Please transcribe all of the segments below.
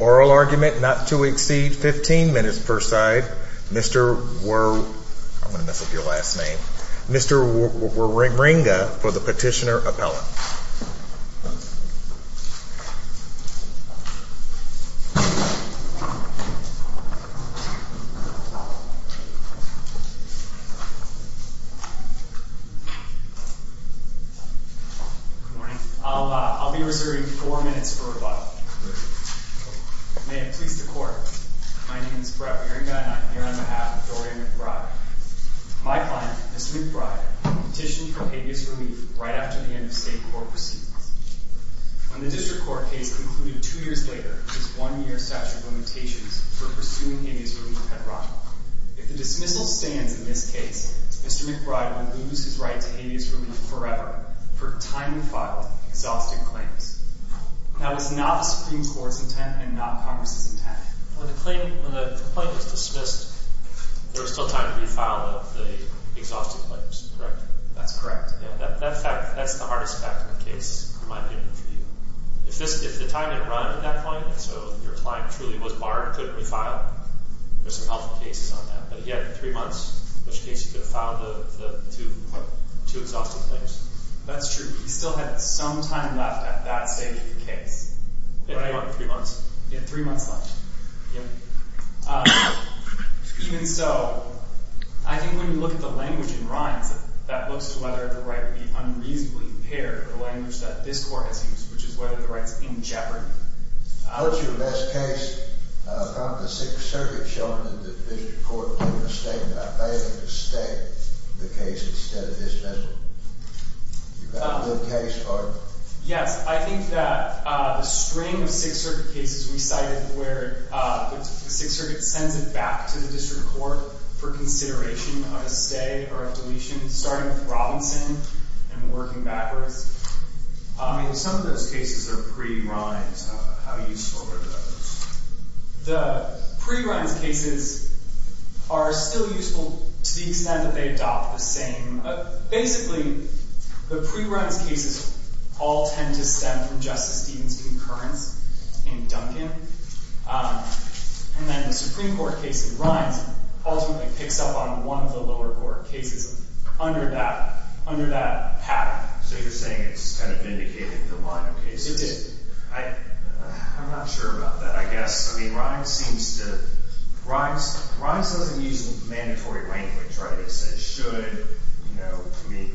Oral argument not to exceed 15 minutes per side. Mr. Waringa for the petitioner appellate. Good morning. I'll be reserving four minutes for rebuttal. May it please the court, my name is Brett Waringa and I'm here on behalf of Dorreon McBride. My client, Mr. McBride, petitioned for habeas relief right after the end of state court proceedings. When the district court case concluded two years later, his one-year statute of limitations for pursuing habeas relief had rotted. If the dismissal stands in this case, Mr. McBride would lose his right to habeas relief forever for timely filed, exhaustive claims. That was not the Supreme Court's intent and not Congress's intent. When the complaint was dismissed, there was still time to refile the exhaustive claims, correct? That's correct. That's the hardest fact in the case, in my opinion, for you. If the time had run at that point, so your client truly was barred, couldn't refile, there's some helpful cases on that. But he had three months in which case he could have filed the two exhaustive claims. That's true. He still had some time left at that stage of the case. He had three months left. Even so, I think when you look at the language in Rhymes, that looks to whether the right would be unreasonably impaired, the language that this court has used, which is whether the right's in jeopardy. What's your best case from the Sixth Circuit showing that the district court made a statement, I believe, to stay the case instead of dismissal? You've got a good case, pardon? Yes, I think that the string of Sixth Circuit cases we cited where the Sixth Circuit sends it back to the district court for consideration on a stay or a deletion, starting with Robinson and working backwards. Some of those cases are pre-Rhymes. How useful are those? The pre-Rhymes cases are still useful to the extent that they adopt the same. Basically, the pre-Rhymes cases all tend to stem from Justice Stevens' concurrence in Duncan. And then the Supreme Court case in Rhymes ultimately picks up on one of the lower court cases under that pattern. So you're saying it's vindicated the line of cases? It did. I'm not sure about that, I guess. I mean, Rhymes seems to—Rhymes doesn't use mandatory language, right? It says should, you know. I mean,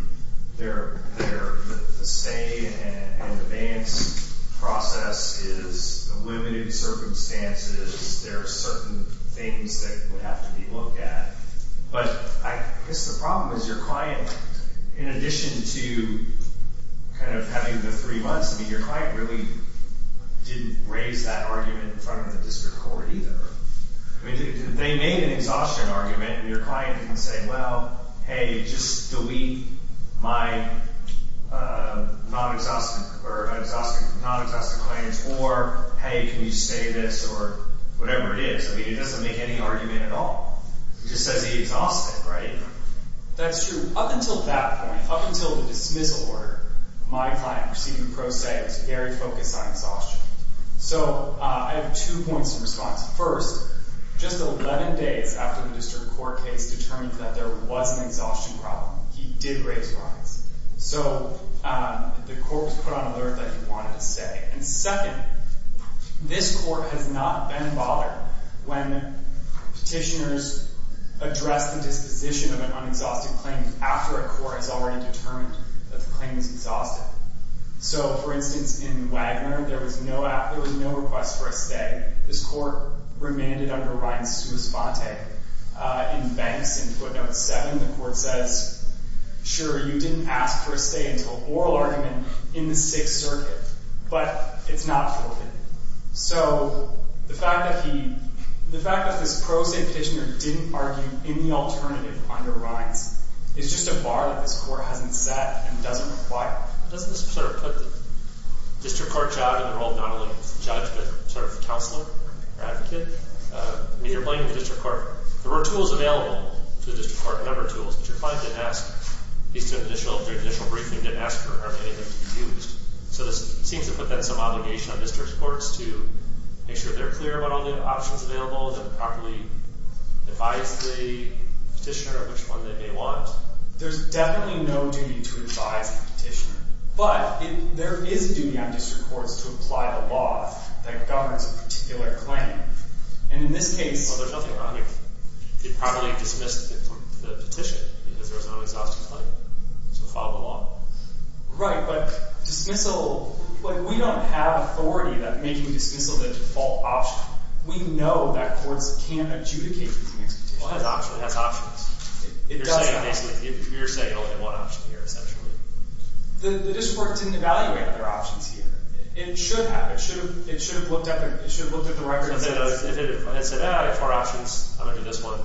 they're—the stay and the bans process is a limited circumstance. There are certain things that would have to be looked at. But I guess the problem is your client, in addition to kind of having the three months, I mean, your client really didn't raise that argument in front of the district court either. I mean, they made an exhaustion argument, and your client didn't say, well, hey, just delete my non-exhaustive claims, or hey, can you stay this, or whatever it is. I mean, it doesn't make any argument at all. It just says he exhausted, right? That's true. Up until that point, up until the dismissal order, my client received a pro se, it was very focused on exhaustion. So I have two points in response. First, just 11 days after the district court case determined that there was an exhaustion problem, he did raise Rhymes. So the court was put on alert that he wanted to stay. And second, this court has not been bothered when petitioners address the disposition of an unexhausted claim after a court has already determined that the claim is exhausted. So, for instance, in Wagner, there was no request for a stay. This court remanded under Rhymes to Esponte. In Banks, in footnote 7, the court says, sure, you didn't ask for a stay until oral argument in the Sixth Circuit. But it's not forbidden. So the fact that he, the fact that this pro se petitioner didn't argue any alternative under Rhymes is just a bar that this court hasn't set and doesn't apply. Doesn't this sort of put the district court job in the role of not only judge, but sort of counselor or advocate? I mean, you're blaming the district court. There were tools available to the district court, a number of tools, but your client didn't ask. So this seems to put that some obligation on district courts to make sure they're clear about all the options available and then properly advise the petitioner which one they may want. There's definitely no duty to advise the petitioner. But there is a duty on district courts to apply the law that governs a particular claim. And in this case, there's nothing wrong with it. He probably dismissed the petition because there was no exhaustive claim. So follow the law. Right. But dismissal, we don't have authority that makes you dismissal the default option. We know that courts can't adjudicate these kinds of petitions. Well, it has options. It does have options. You're saying only one option here, essentially. The district court didn't evaluate their options here. It should have. It should have looked at the records. If it had said, ah, I have four options. I'm going to do this one,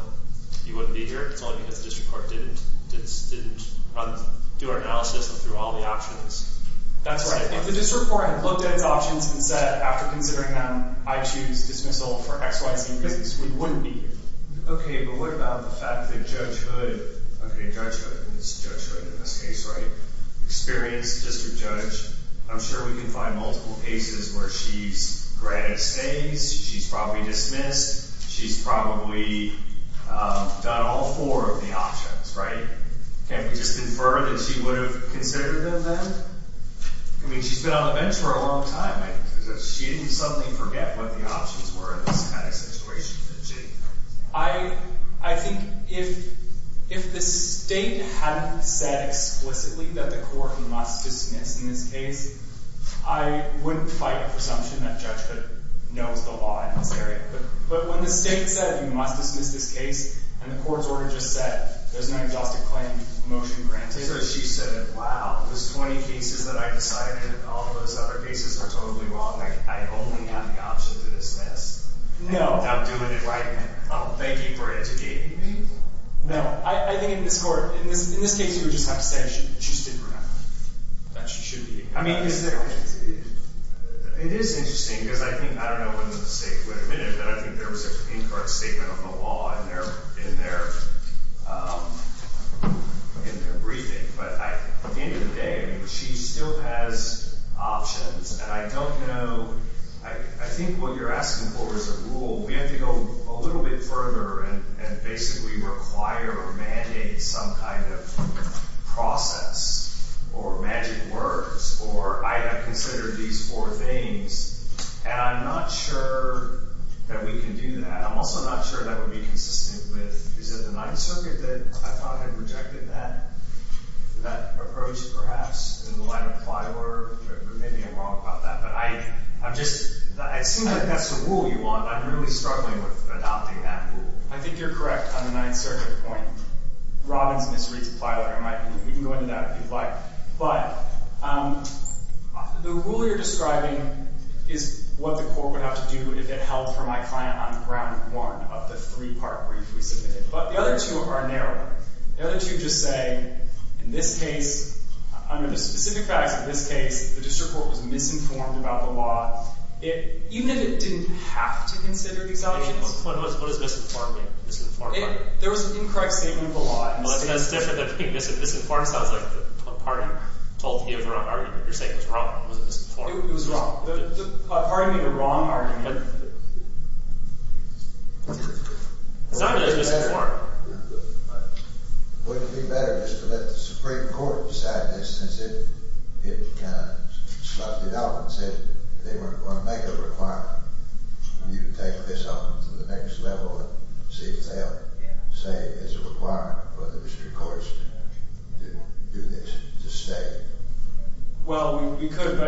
you wouldn't be here. It's only because the district court didn't do our analysis and threw all the options. That's right. If the district court had looked at its options and said, after considering them, I choose dismissal for X, Y, Z reasons, we wouldn't be here. OK. But what about the fact that Judge Hood, OK, Judge Hood is Judge Hood in this case, right? Experienced district judge. I'm sure we can find multiple cases where she's granted stays. She's probably dismissed. She's probably done all four of the options, right? Can't we just infer that she would have considered them then? I mean, she's been on the bench for a long time. She didn't suddenly forget what the options were in this kind of situation. I think if the state hadn't said explicitly that the court must dismiss in this case, I wouldn't fight the presumption that Judge Hood knows the law in this area. But when the state said, you must dismiss this case, and the court's order just said, there's no adjusted claim motion granted. So she said, wow, there's 20 cases that I decided. All those other cases are totally wrong. I only have the option to dismiss. No. I'm doing it right now. Thank you for educating me. No. I think in this court, in this case, you would just have to say she's dismissed. That she should be. I mean, is there? It is interesting, because I think, I don't know when the state would admit it, but I think there was an in-court statement on the law in their briefing. But at the end of the day, she still has options. And I don't know. I think what you're asking for is a rule. We have to go a little bit further and basically require or mandate some kind of process or magic words. Or I have considered these four things. And I'm not sure that we can do that. I'm also not sure that would be consistent with, is it the Ninth Circuit that I thought had rejected that? That approach, perhaps? In the line of Plyler? Maybe I'm wrong about that. But I've just, it seems like that's the rule you want. I'm really struggling with adopting that rule. I think you're correct on the Ninth Circuit point. Robbins misreads Plyler, I might believe. We can go into that if you'd like. But the rule you're describing is what the court would have to do if it held for my client on ground one of the three-part brief we submitted. But the other two are narrower. The other two just say, in this case, under the specific facts of this case, the district court was misinformed about the law. Even if it didn't have to consider these options. What does misinformed mean? There was an incorrect statement of the law. Well, that's different than being misinformed. It sounds like the party told you the wrong argument. You're saying it was wrong. It was misinformed. It was wrong. The party made a wrong argument. It sounded like it was misinformed. Wouldn't it be better just to let the Supreme Court decide this since it kind of sloughed it out and said they weren't going to make a requirement? You take this on to the next level and see if they'll say it's a requirement for the district courts to do this, to stay. Well, we could.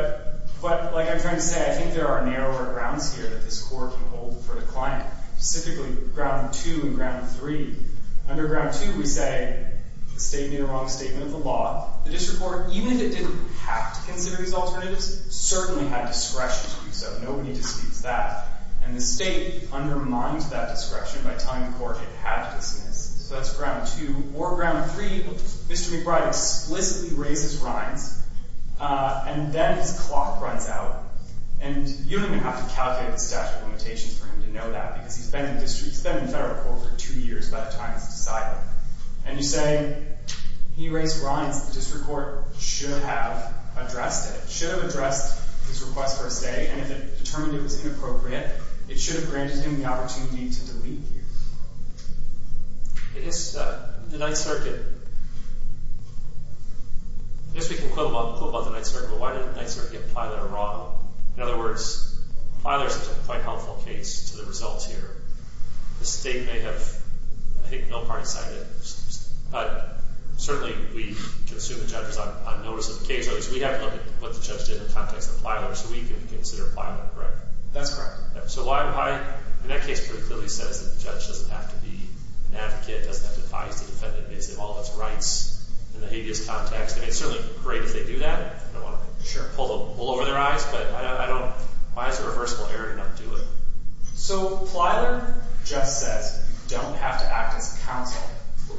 But like I'm trying to say, I think there are narrower grounds here that this court can hold for the client. Specifically, ground two and ground three. Under ground two, we say the state made a wrong statement of the law. The district court, even if it didn't have to consider these alternatives, certainly had discretion to do so. Nobody disputes that. And the state undermined that discretion by telling the court it had to dismiss. So that's ground two. Or ground three, Mr. McBride explicitly raised his rinds, and then his clock runs out. And you don't even have to calculate the statute of limitations for him to know that because he's been in federal court for two years by the time it's decided. And you say he raised rinds. The district court should have addressed it, should have addressed his request for a stay. And if it determined it was inappropriate, it should have granted him the opportunity to delete here. I guess the Ninth Circuit, I guess we can quote about the Ninth Circuit, but why did the Ninth Circuit and Plyler are wrong? In other words, Plyler is a quite helpful case to the results here. The state may have, I think, no party side in it. But certainly we can assume the judge was on notice of the case. So we have to look at what the judge did in the context of Plyler so we can consider Plyler correct. That's correct. So why? I mean, that case pretty clearly says that the judge doesn't have to be an advocate, doesn't have to advise the defendant based on all of its rights in the habeas context. And it's certainly great if they do that. I don't want to pull over their eyes, but I don't—why is a reversible error to not do it? So Plyler just says you don't have to act as counsel.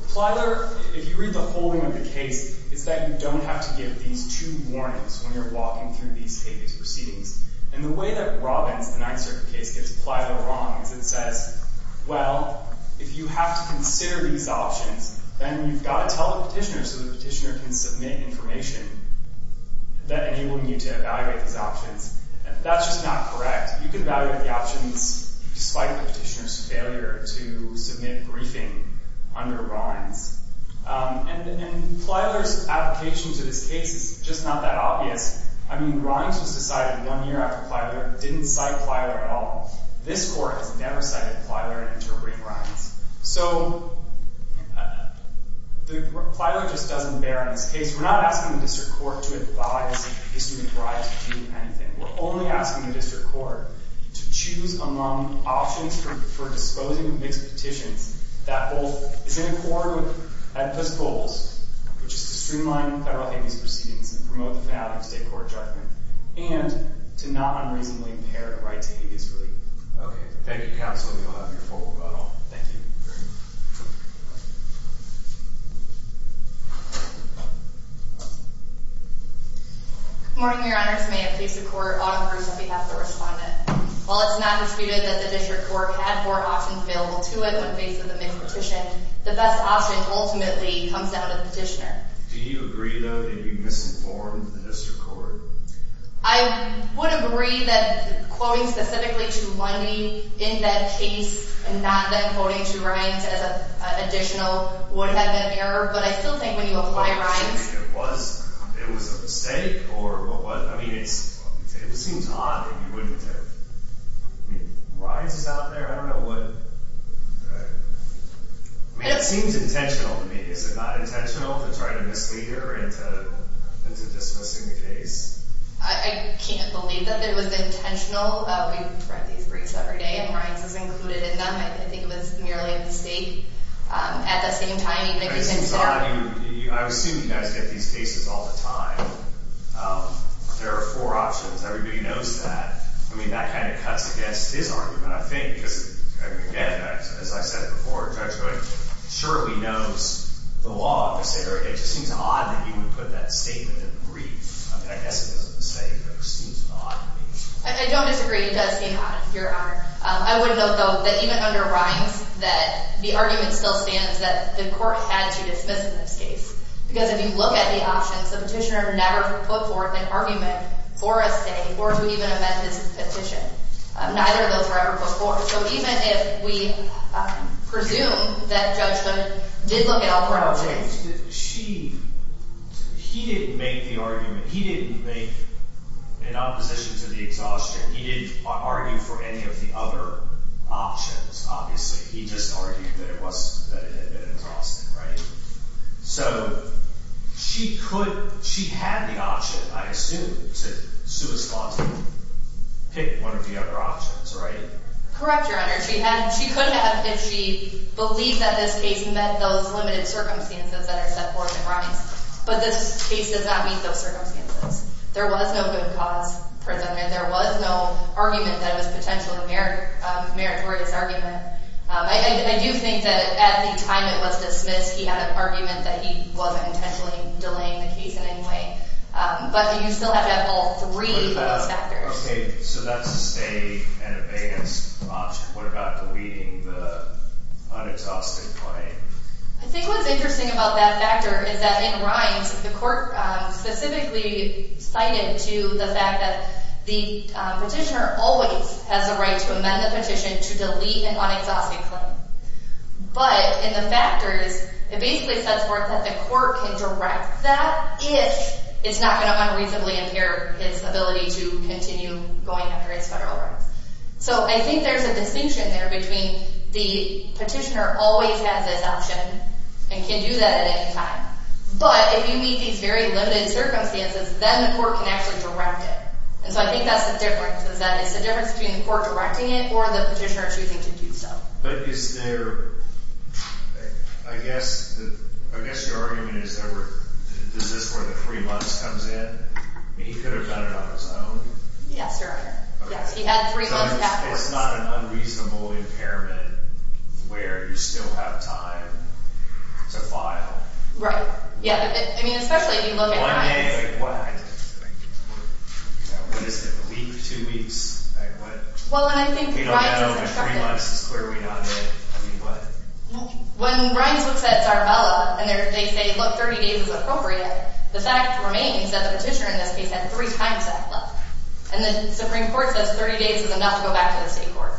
Plyler, if you read the whole name of the case, it's that you don't have to give these two warnings when you're walking through these habeas proceedings. And the way that Robbins, the Ninth Circuit case, gets Plyler wrong is it says, well, if you have to consider these options, then you've got to tell the petitioner so the petitioner can submit information that enables you to evaluate these options. That's just not correct. You can evaluate the options despite the petitioner's failure to submit briefing under Rinds. And Plyler's application to this case is just not that obvious. I mean, Rinds was decided one year after Plyler. It didn't cite Plyler at all. This Court has never cited Plyler in interpreting Rinds. So Plyler just doesn't bear in this case. We're not asking the district court to advise history of bribes to do anything. We're only asking the district court to choose among options for disposing of mixed petitions that both is in accord with Edpus goals, which is to streamline federal habeas proceedings and promote the value of state court judgment, and to not unreasonably impair the right to habeas relief. Okay. Thank you, counsel. And you'll have your formal vote on. Thank you. Thank you. Good morning, Your Honors. May it please the Court, Autumn Bruce on behalf of the Respondent. While it's not disputed that the district court had four options available to it when faced with a mixed petition, the best option ultimately comes down to the petitioner. Do you agree, though, that you misinformed the district court? I would agree that quoting specifically to Lundy in that case and not then quoting to Rinds as an additional would have been an error, but I still think when you apply Rinds… It was a mistake, or what? I mean, it seems odd that you wouldn't have. I mean, Rinds is out there. I don't know what… I mean, it seems intentional to me. Is it not intentional to try to mislead her into dismissing the case? I can't believe that it was intentional. We've read these briefs every day, and Rinds is included in them. I think it was merely a mistake. At the same time, even if it… It seems odd. I assume you guys get these cases all the time. There are four options. Everybody knows that. I mean, that kind of cuts against his argument, I think, because, again, as I said before, a judge surely knows the law. It just seems odd that you would put that statement in the brief. I mean, I guess it doesn't say, but it just seems odd to me. I don't disagree. It does seem odd, Your Honor. I would note, though, that even under Rinds, that the argument still stands that the court had to dismiss in this case because if you look at the options, the petitioner never put forth an argument for a stay or to even amend his petition. Neither of those were ever put forth. So even if we presume that Judge Hood did look at all four options… Well, she… He didn't make the argument. He didn't make an opposition to the exhaustion. He didn't argue for any of the other options, obviously. He just argued that it was… that it had been exhausting, right? So she could… she had the option, I assume, to suit his lawsuit, pick one of the other options, right? Correct, Your Honor. She had… she could have if she believed that this case met those limited circumstances that are set forth in Rinds. But this case does not meet those circumstances. There was no good cause presented. There was no argument that was potentially a meritorious argument. I do think that at the time it was dismissed, he had an argument that he wasn't intentionally delaying the case in any way. But you still have to have all three of those factors. What about… okay, so that's a stay and abeyance option. What about deleting the unexhausted claim? I think what's interesting about that factor is that in Rinds, the court specifically cited to the fact that the petitioner always has the right to amend the petition to delete an unexhausted claim. But in the factors, it basically sets forth that the court can direct that if it's not going to unreasonably impair its ability to continue going after its federal rights. So I think there's a distinction there between the petitioner always has this option and can do that at any time. But if you meet these very limited circumstances, then the court can actually direct it. And so I think that's the difference, is that it's the difference between the court directing it or the petitioner choosing to do so. But is there – I guess your argument is there were – is this where the three months comes in? I mean, he could have done it on his own. Yes, Your Honor. Yes, he had three months to have this. So it's not an unreasonable impairment where you still have time to file? Right. Yeah. I mean, especially if you look at – One day? Like what? What is it? A week? Two weeks? Like what? Well, and I think Rinds has instructed – We don't have over three months. It's clearly not a day. I mean, what? When Rinds looks at Zarbella and they say, look, 30 days is appropriate, the fact remains that the petitioner in this case had three times that left. And the Supreme Court says 30 days is enough to go back to the state court.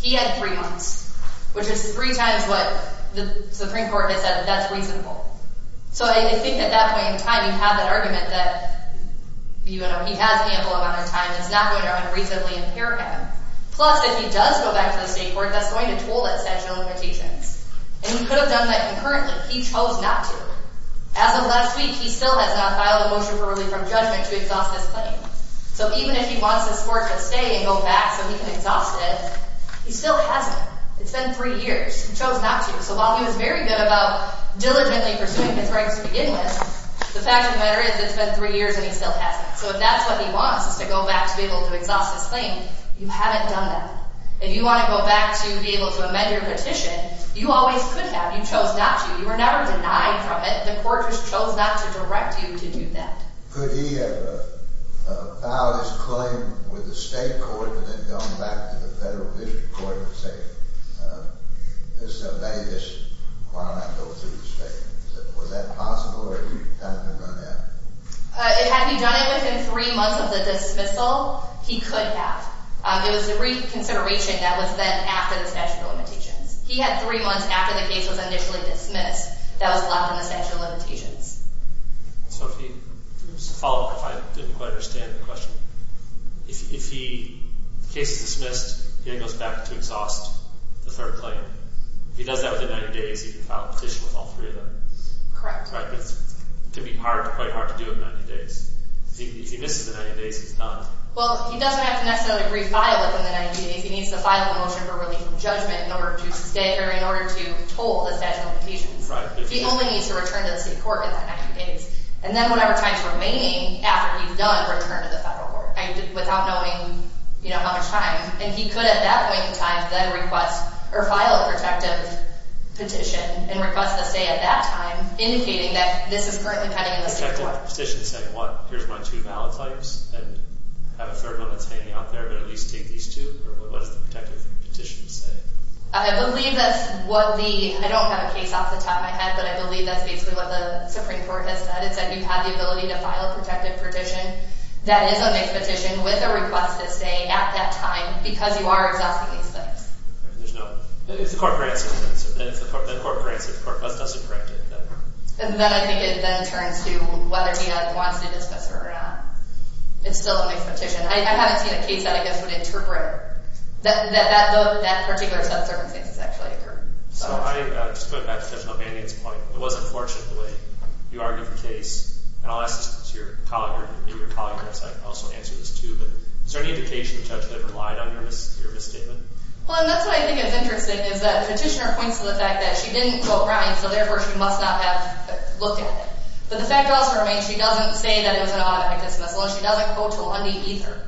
He had three months, which is three times what the Supreme Court has said that that's reasonable. So I think at that point in time you have that argument that, you know, he has ample amount of time. It's not going to unreasonably impair him. Plus, if he does go back to the state court, that's going to toll his statute of limitations. And he could have done that concurrently. He chose not to. As of last week, he still has not filed a motion for relief from judgment to exhaust this claim. So even if he wants this court to stay and go back so he can exhaust it, he still hasn't. It's been three years. He chose not to. So while he was very good about diligently pursuing his rights to begin with, the fact of the matter is it's been three years and he still hasn't. So if that's what he wants is to go back to be able to exhaust this claim, you haven't done that. If you want to go back to be able to amend your petition, you always could have. You chose not to. You were never denied from it. The court just chose not to direct you to do that. Could he have filed his claim with the state court and then gone back to the federal district court and say, this is a bad issue. Why don't I go through the state? Was that possible or has it been done now? Had he done it within three months of the dismissal, he could have. It was a reconsideration that was then after the statute of limitations. He had three months after the case was initially dismissed that was left in the statute of limitations. So to follow up if I didn't quite understand the question, if the case is dismissed, he goes back to exhaust the third claim. If he does that within 90 days, he can file a petition with all three of them. Correct. It's going to be quite hard to do it in 90 days. If he misses the 90 days, he's done. Well, he doesn't have to necessarily refile it within the 90 days. He needs to file a motion for relief of judgment in order to sustain or in order to toll the statute of limitations. He only needs to return to the state court within 90 days. And then whatever time is remaining after he's done, return to the federal court without knowing how much time. And he could at that point in time then request or file a protective petition and request a stay at that time, indicating that this is currently pending in the state court. A protective petition saying, what, here's my two valid claims and I have a third one that's hanging out there, but at least take these two? Or what does the protective petition say? I believe that's what the – I don't have a case off the top of my head, but I believe that's basically what the Supreme Court has said. It said you have the ability to file a protective petition that is a mixed petition with a request to stay at that time because you are exhausting these claims. There's no – it's the court for answers. It's the court for answers. The court for answers doesn't correct it. And then I think it then turns to whether he wants to dismiss it or not. It's still a mixed petition. I haven't seen a case that I guess would interpret that. But that particular set of circumstances actually occurred. So I just want to go back to Judge O'Banion's point. It was unfortunate the way you argued the case. And I'll ask this to your colleague or maybe your colleague on the side can also answer this too, but is there any indication the judge relied on your misstatement? Well, and that's what I think is interesting is that the petitioner points to the fact that she didn't quote Ryan, so therefore she must not have looked at it. But the fact also remains she doesn't say that it was an automatic dismissal and she doesn't quote to Lundy either.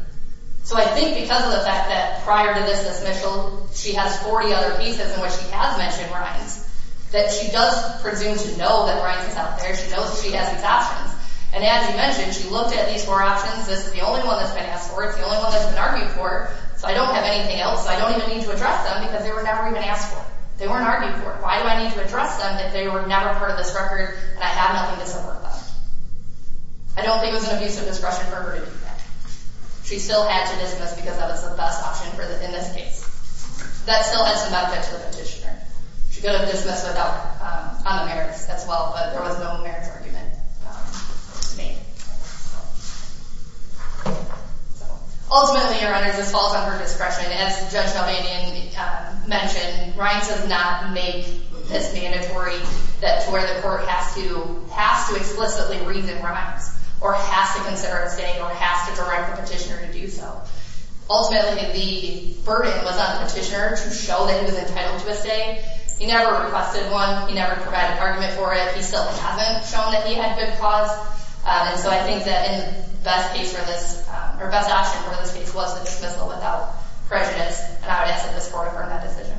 So I think because of the fact that prior to this dismissal, she has 40 other pieces in which she has mentioned Ryan's, that she does presume to know that Ryan's is out there. She knows that she has these options. And as you mentioned, she looked at these four options. This is the only one that's been asked for. It's the only one that's been argued for. So I don't have anything else. I don't even need to address them because they were never even asked for. They weren't argued for. Why do I need to address them if they were never part of this record and I have nothing to support them? I don't think it was an abuse of discretion for her to do that. She still had to dismiss because that was the best option in this case. That still had some benefit to the petitioner. She could have dismissed on the merits as well, but there was no merits argument made. Ultimately, Your Honors, this falls on her discretion. As Judge Delvanian mentioned, Ryan does not make this mandatory to where the court has to explicitly read the crimes or has to consider abstaining or has to direct the petitioner to do so. Ultimately, the burden was on the petitioner to show that he was entitled to abstain. He never requested one. He never provided an argument for it. He still hasn't shown that he had good cause. And so I think that the best option for this case was the dismissal without prejudice and I would ask that this Court affirm that decision.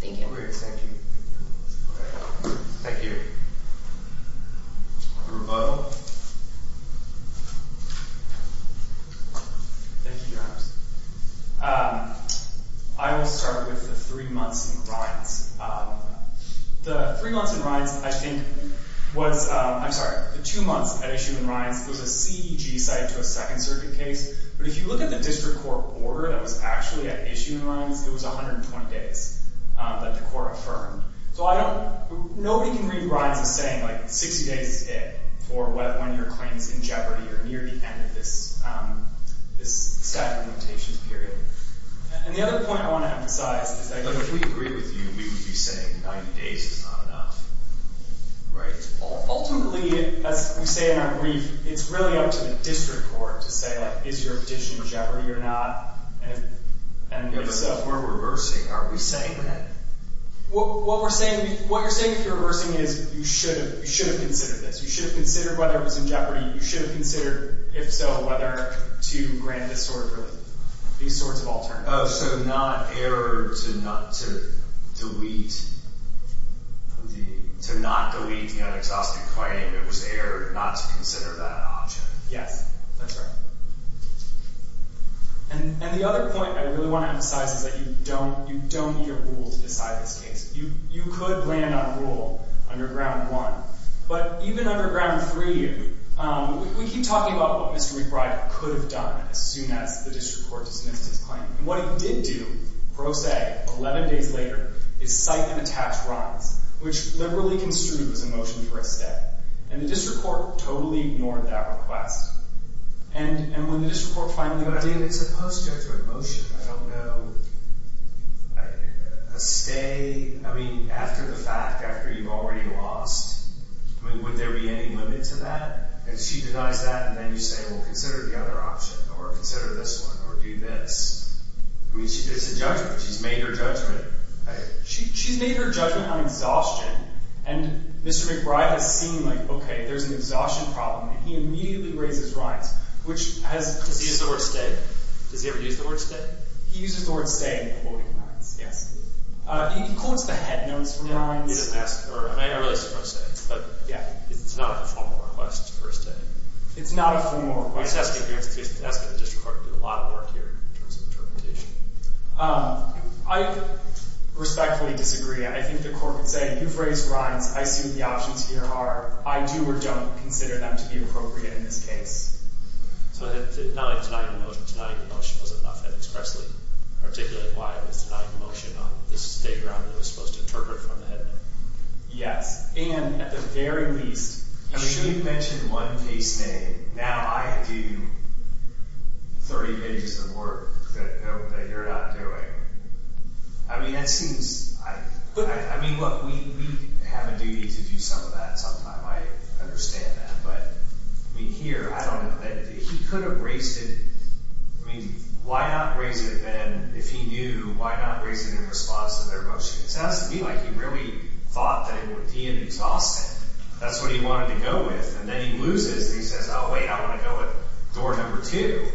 Thank you. Thank you. Thank you. Rebuttal. Thank you, Your Honors. I will start with the three months in Ryan's. The three months in Ryan's, I think, was, I'm sorry, the two months at issue in Ryan's was a CEG site to a Second Circuit case, but if you look at the district court order that was actually at issue in Ryan's, it was 120 days that the court affirmed. So I don't, nobody can read Ryan's as saying, like, 60 days is it for when your claim is in jeopardy or near the end of this statute of limitations period. And the other point I want to emphasize is that if we agree with you, we would be saying 90 days is not enough, right? Ultimately, as we say in our brief, it's really up to the district court to say, like, is your petition in jeopardy or not? We're reversing. Are we saying that? What we're saying, what you're saying if you're reversing is you should have, you should have considered this. You should have considered whether it was in jeopardy. You should have considered, if so, whether to grant this sort of, these sorts of alternatives. Oh, so not error to not, to delete, to not delete the unexhausted claim. It was error not to consider that option. Yes, that's right. And the other point I really want to emphasize is that you don't, you don't need a rule to decide this case. You could land on a rule under Ground 1. But even under Ground 3, we keep talking about what Mr. McBride could have done as soon as the district court dismissed his claim. And what he did do, pro se, 11 days later, is cite an attached wrongs, which liberally construed as a motion for a stay. And the district court totally ignored that request. And when the district court finally did, it's a post-judgment motion. I don't know, a stay, I mean, after the fact, after you've already lost, I mean, would there be any limit to that? If she denies that and then you say, well, consider the other option, or consider this one, or do this. I mean, it's a judgment. She's made her judgment. She's made her judgment on exhaustion. And Mr. McBride has seen, like, okay, there's an exhaustion problem. And he immediately raises rinds, which has – Does he use the word stay? Does he ever use the word stay? He uses the word stay in quoting rinds. Yes. He quotes the head notes for rinds. Yeah, he doesn't ask for it. I mean, I realize it's pro se. But it's not a formal request for a stay. It's not a formal request. I'm just asking the district court to do a lot of work here in terms of interpretation. I respectfully disagree. I think the court would say, you've raised rinds. I see what the options here are. I do or don't consider them to be appropriate in this case. So, not like denying the motion. Denying the motion was enough. I'd expressly articulate why I was denying the motion on this state round that was supposed to interpret from the head note. Yes. And at the very least – I mean, you mentioned one case name. Now I do 30 pages of work that you're not doing. I mean, that seems – I mean, look, we have a duty to do some of that sometime. I understand that. But, I mean, here, I don't – he could have raised it – I mean, why not raise it then if he knew? Why not raise it in response to their motion? It sounds to me like he really thought that it would be an exhaustion. That's what he wanted to go with. And then he loses. He says, oh, wait, I want to go with door number two.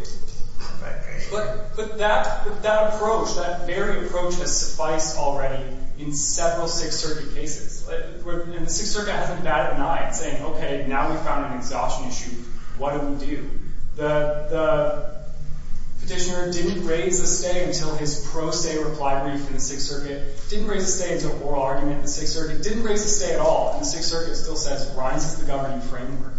But that approach, that very approach, has sufficed already in several Sixth Circuit cases. And the Sixth Circuit hasn't been bad at denying, saying, okay, now we've found an exhaustion issue. What do we do? The petitioner didn't raise the stay until his pro-stay reply brief in the Sixth Circuit. Didn't raise the stay until oral argument in the Sixth Circuit. Didn't raise the stay at all. And the Sixth Circuit still says, rises the governing framework.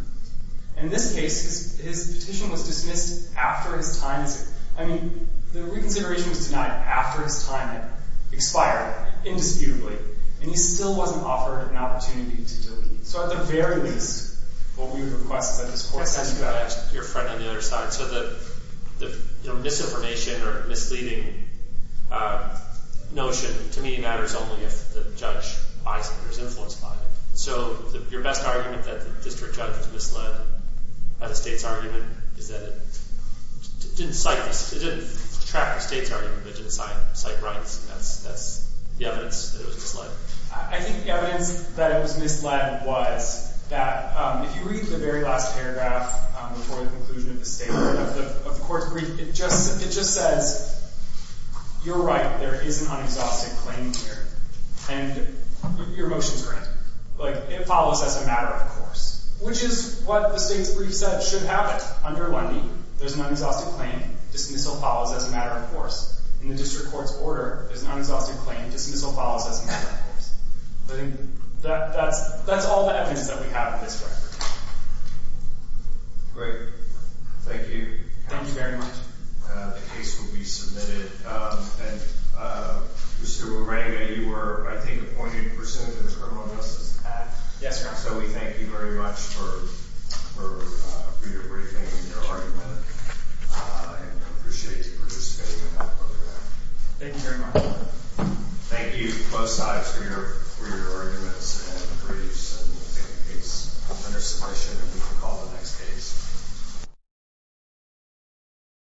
In this case, his petition was dismissed after his time – I mean, the reconsideration was denied after his time. Expired, indisputably. And he still wasn't offered an opportunity to delete. So at the very least, what we would request is that this court send you out. I'd like to ask your friend on the other side. So the misinformation or misleading notion, to me, matters only if the judge buys it or is influenced by it. So your best argument that the district judge was misled by the state's argument is that it didn't cite – it didn't track the state's argument, but it didn't cite rights. That's the evidence that it was misled. I think the evidence that it was misled was that if you read the very last paragraph before the conclusion of the state, of the court's brief, it just says, you're right, there is an unexhausted claim here. And your motion's correct. Like, it follows as a matter of course. Which is what the state's brief said should have it. Under Lundy, there's an unexhausted claim. Dismissal follows as a matter of course. In the district court's order, there's an unexhausted claim. Dismissal follows as a matter of course. I think that's all the evidence that we have in this record. Great. Thank you. Thank you very much. The case will be submitted. And Mr. Moranga, you were, I think, appointed for sentencing to the Criminal Justice Act. Yes, Your Honor. So we thank you very much for your briefing and your argument. And we appreciate you participating in our program. Thank you very much. Thank you, both sides, for your arguments and briefs. And we'll take the case under submission and we can call the next case.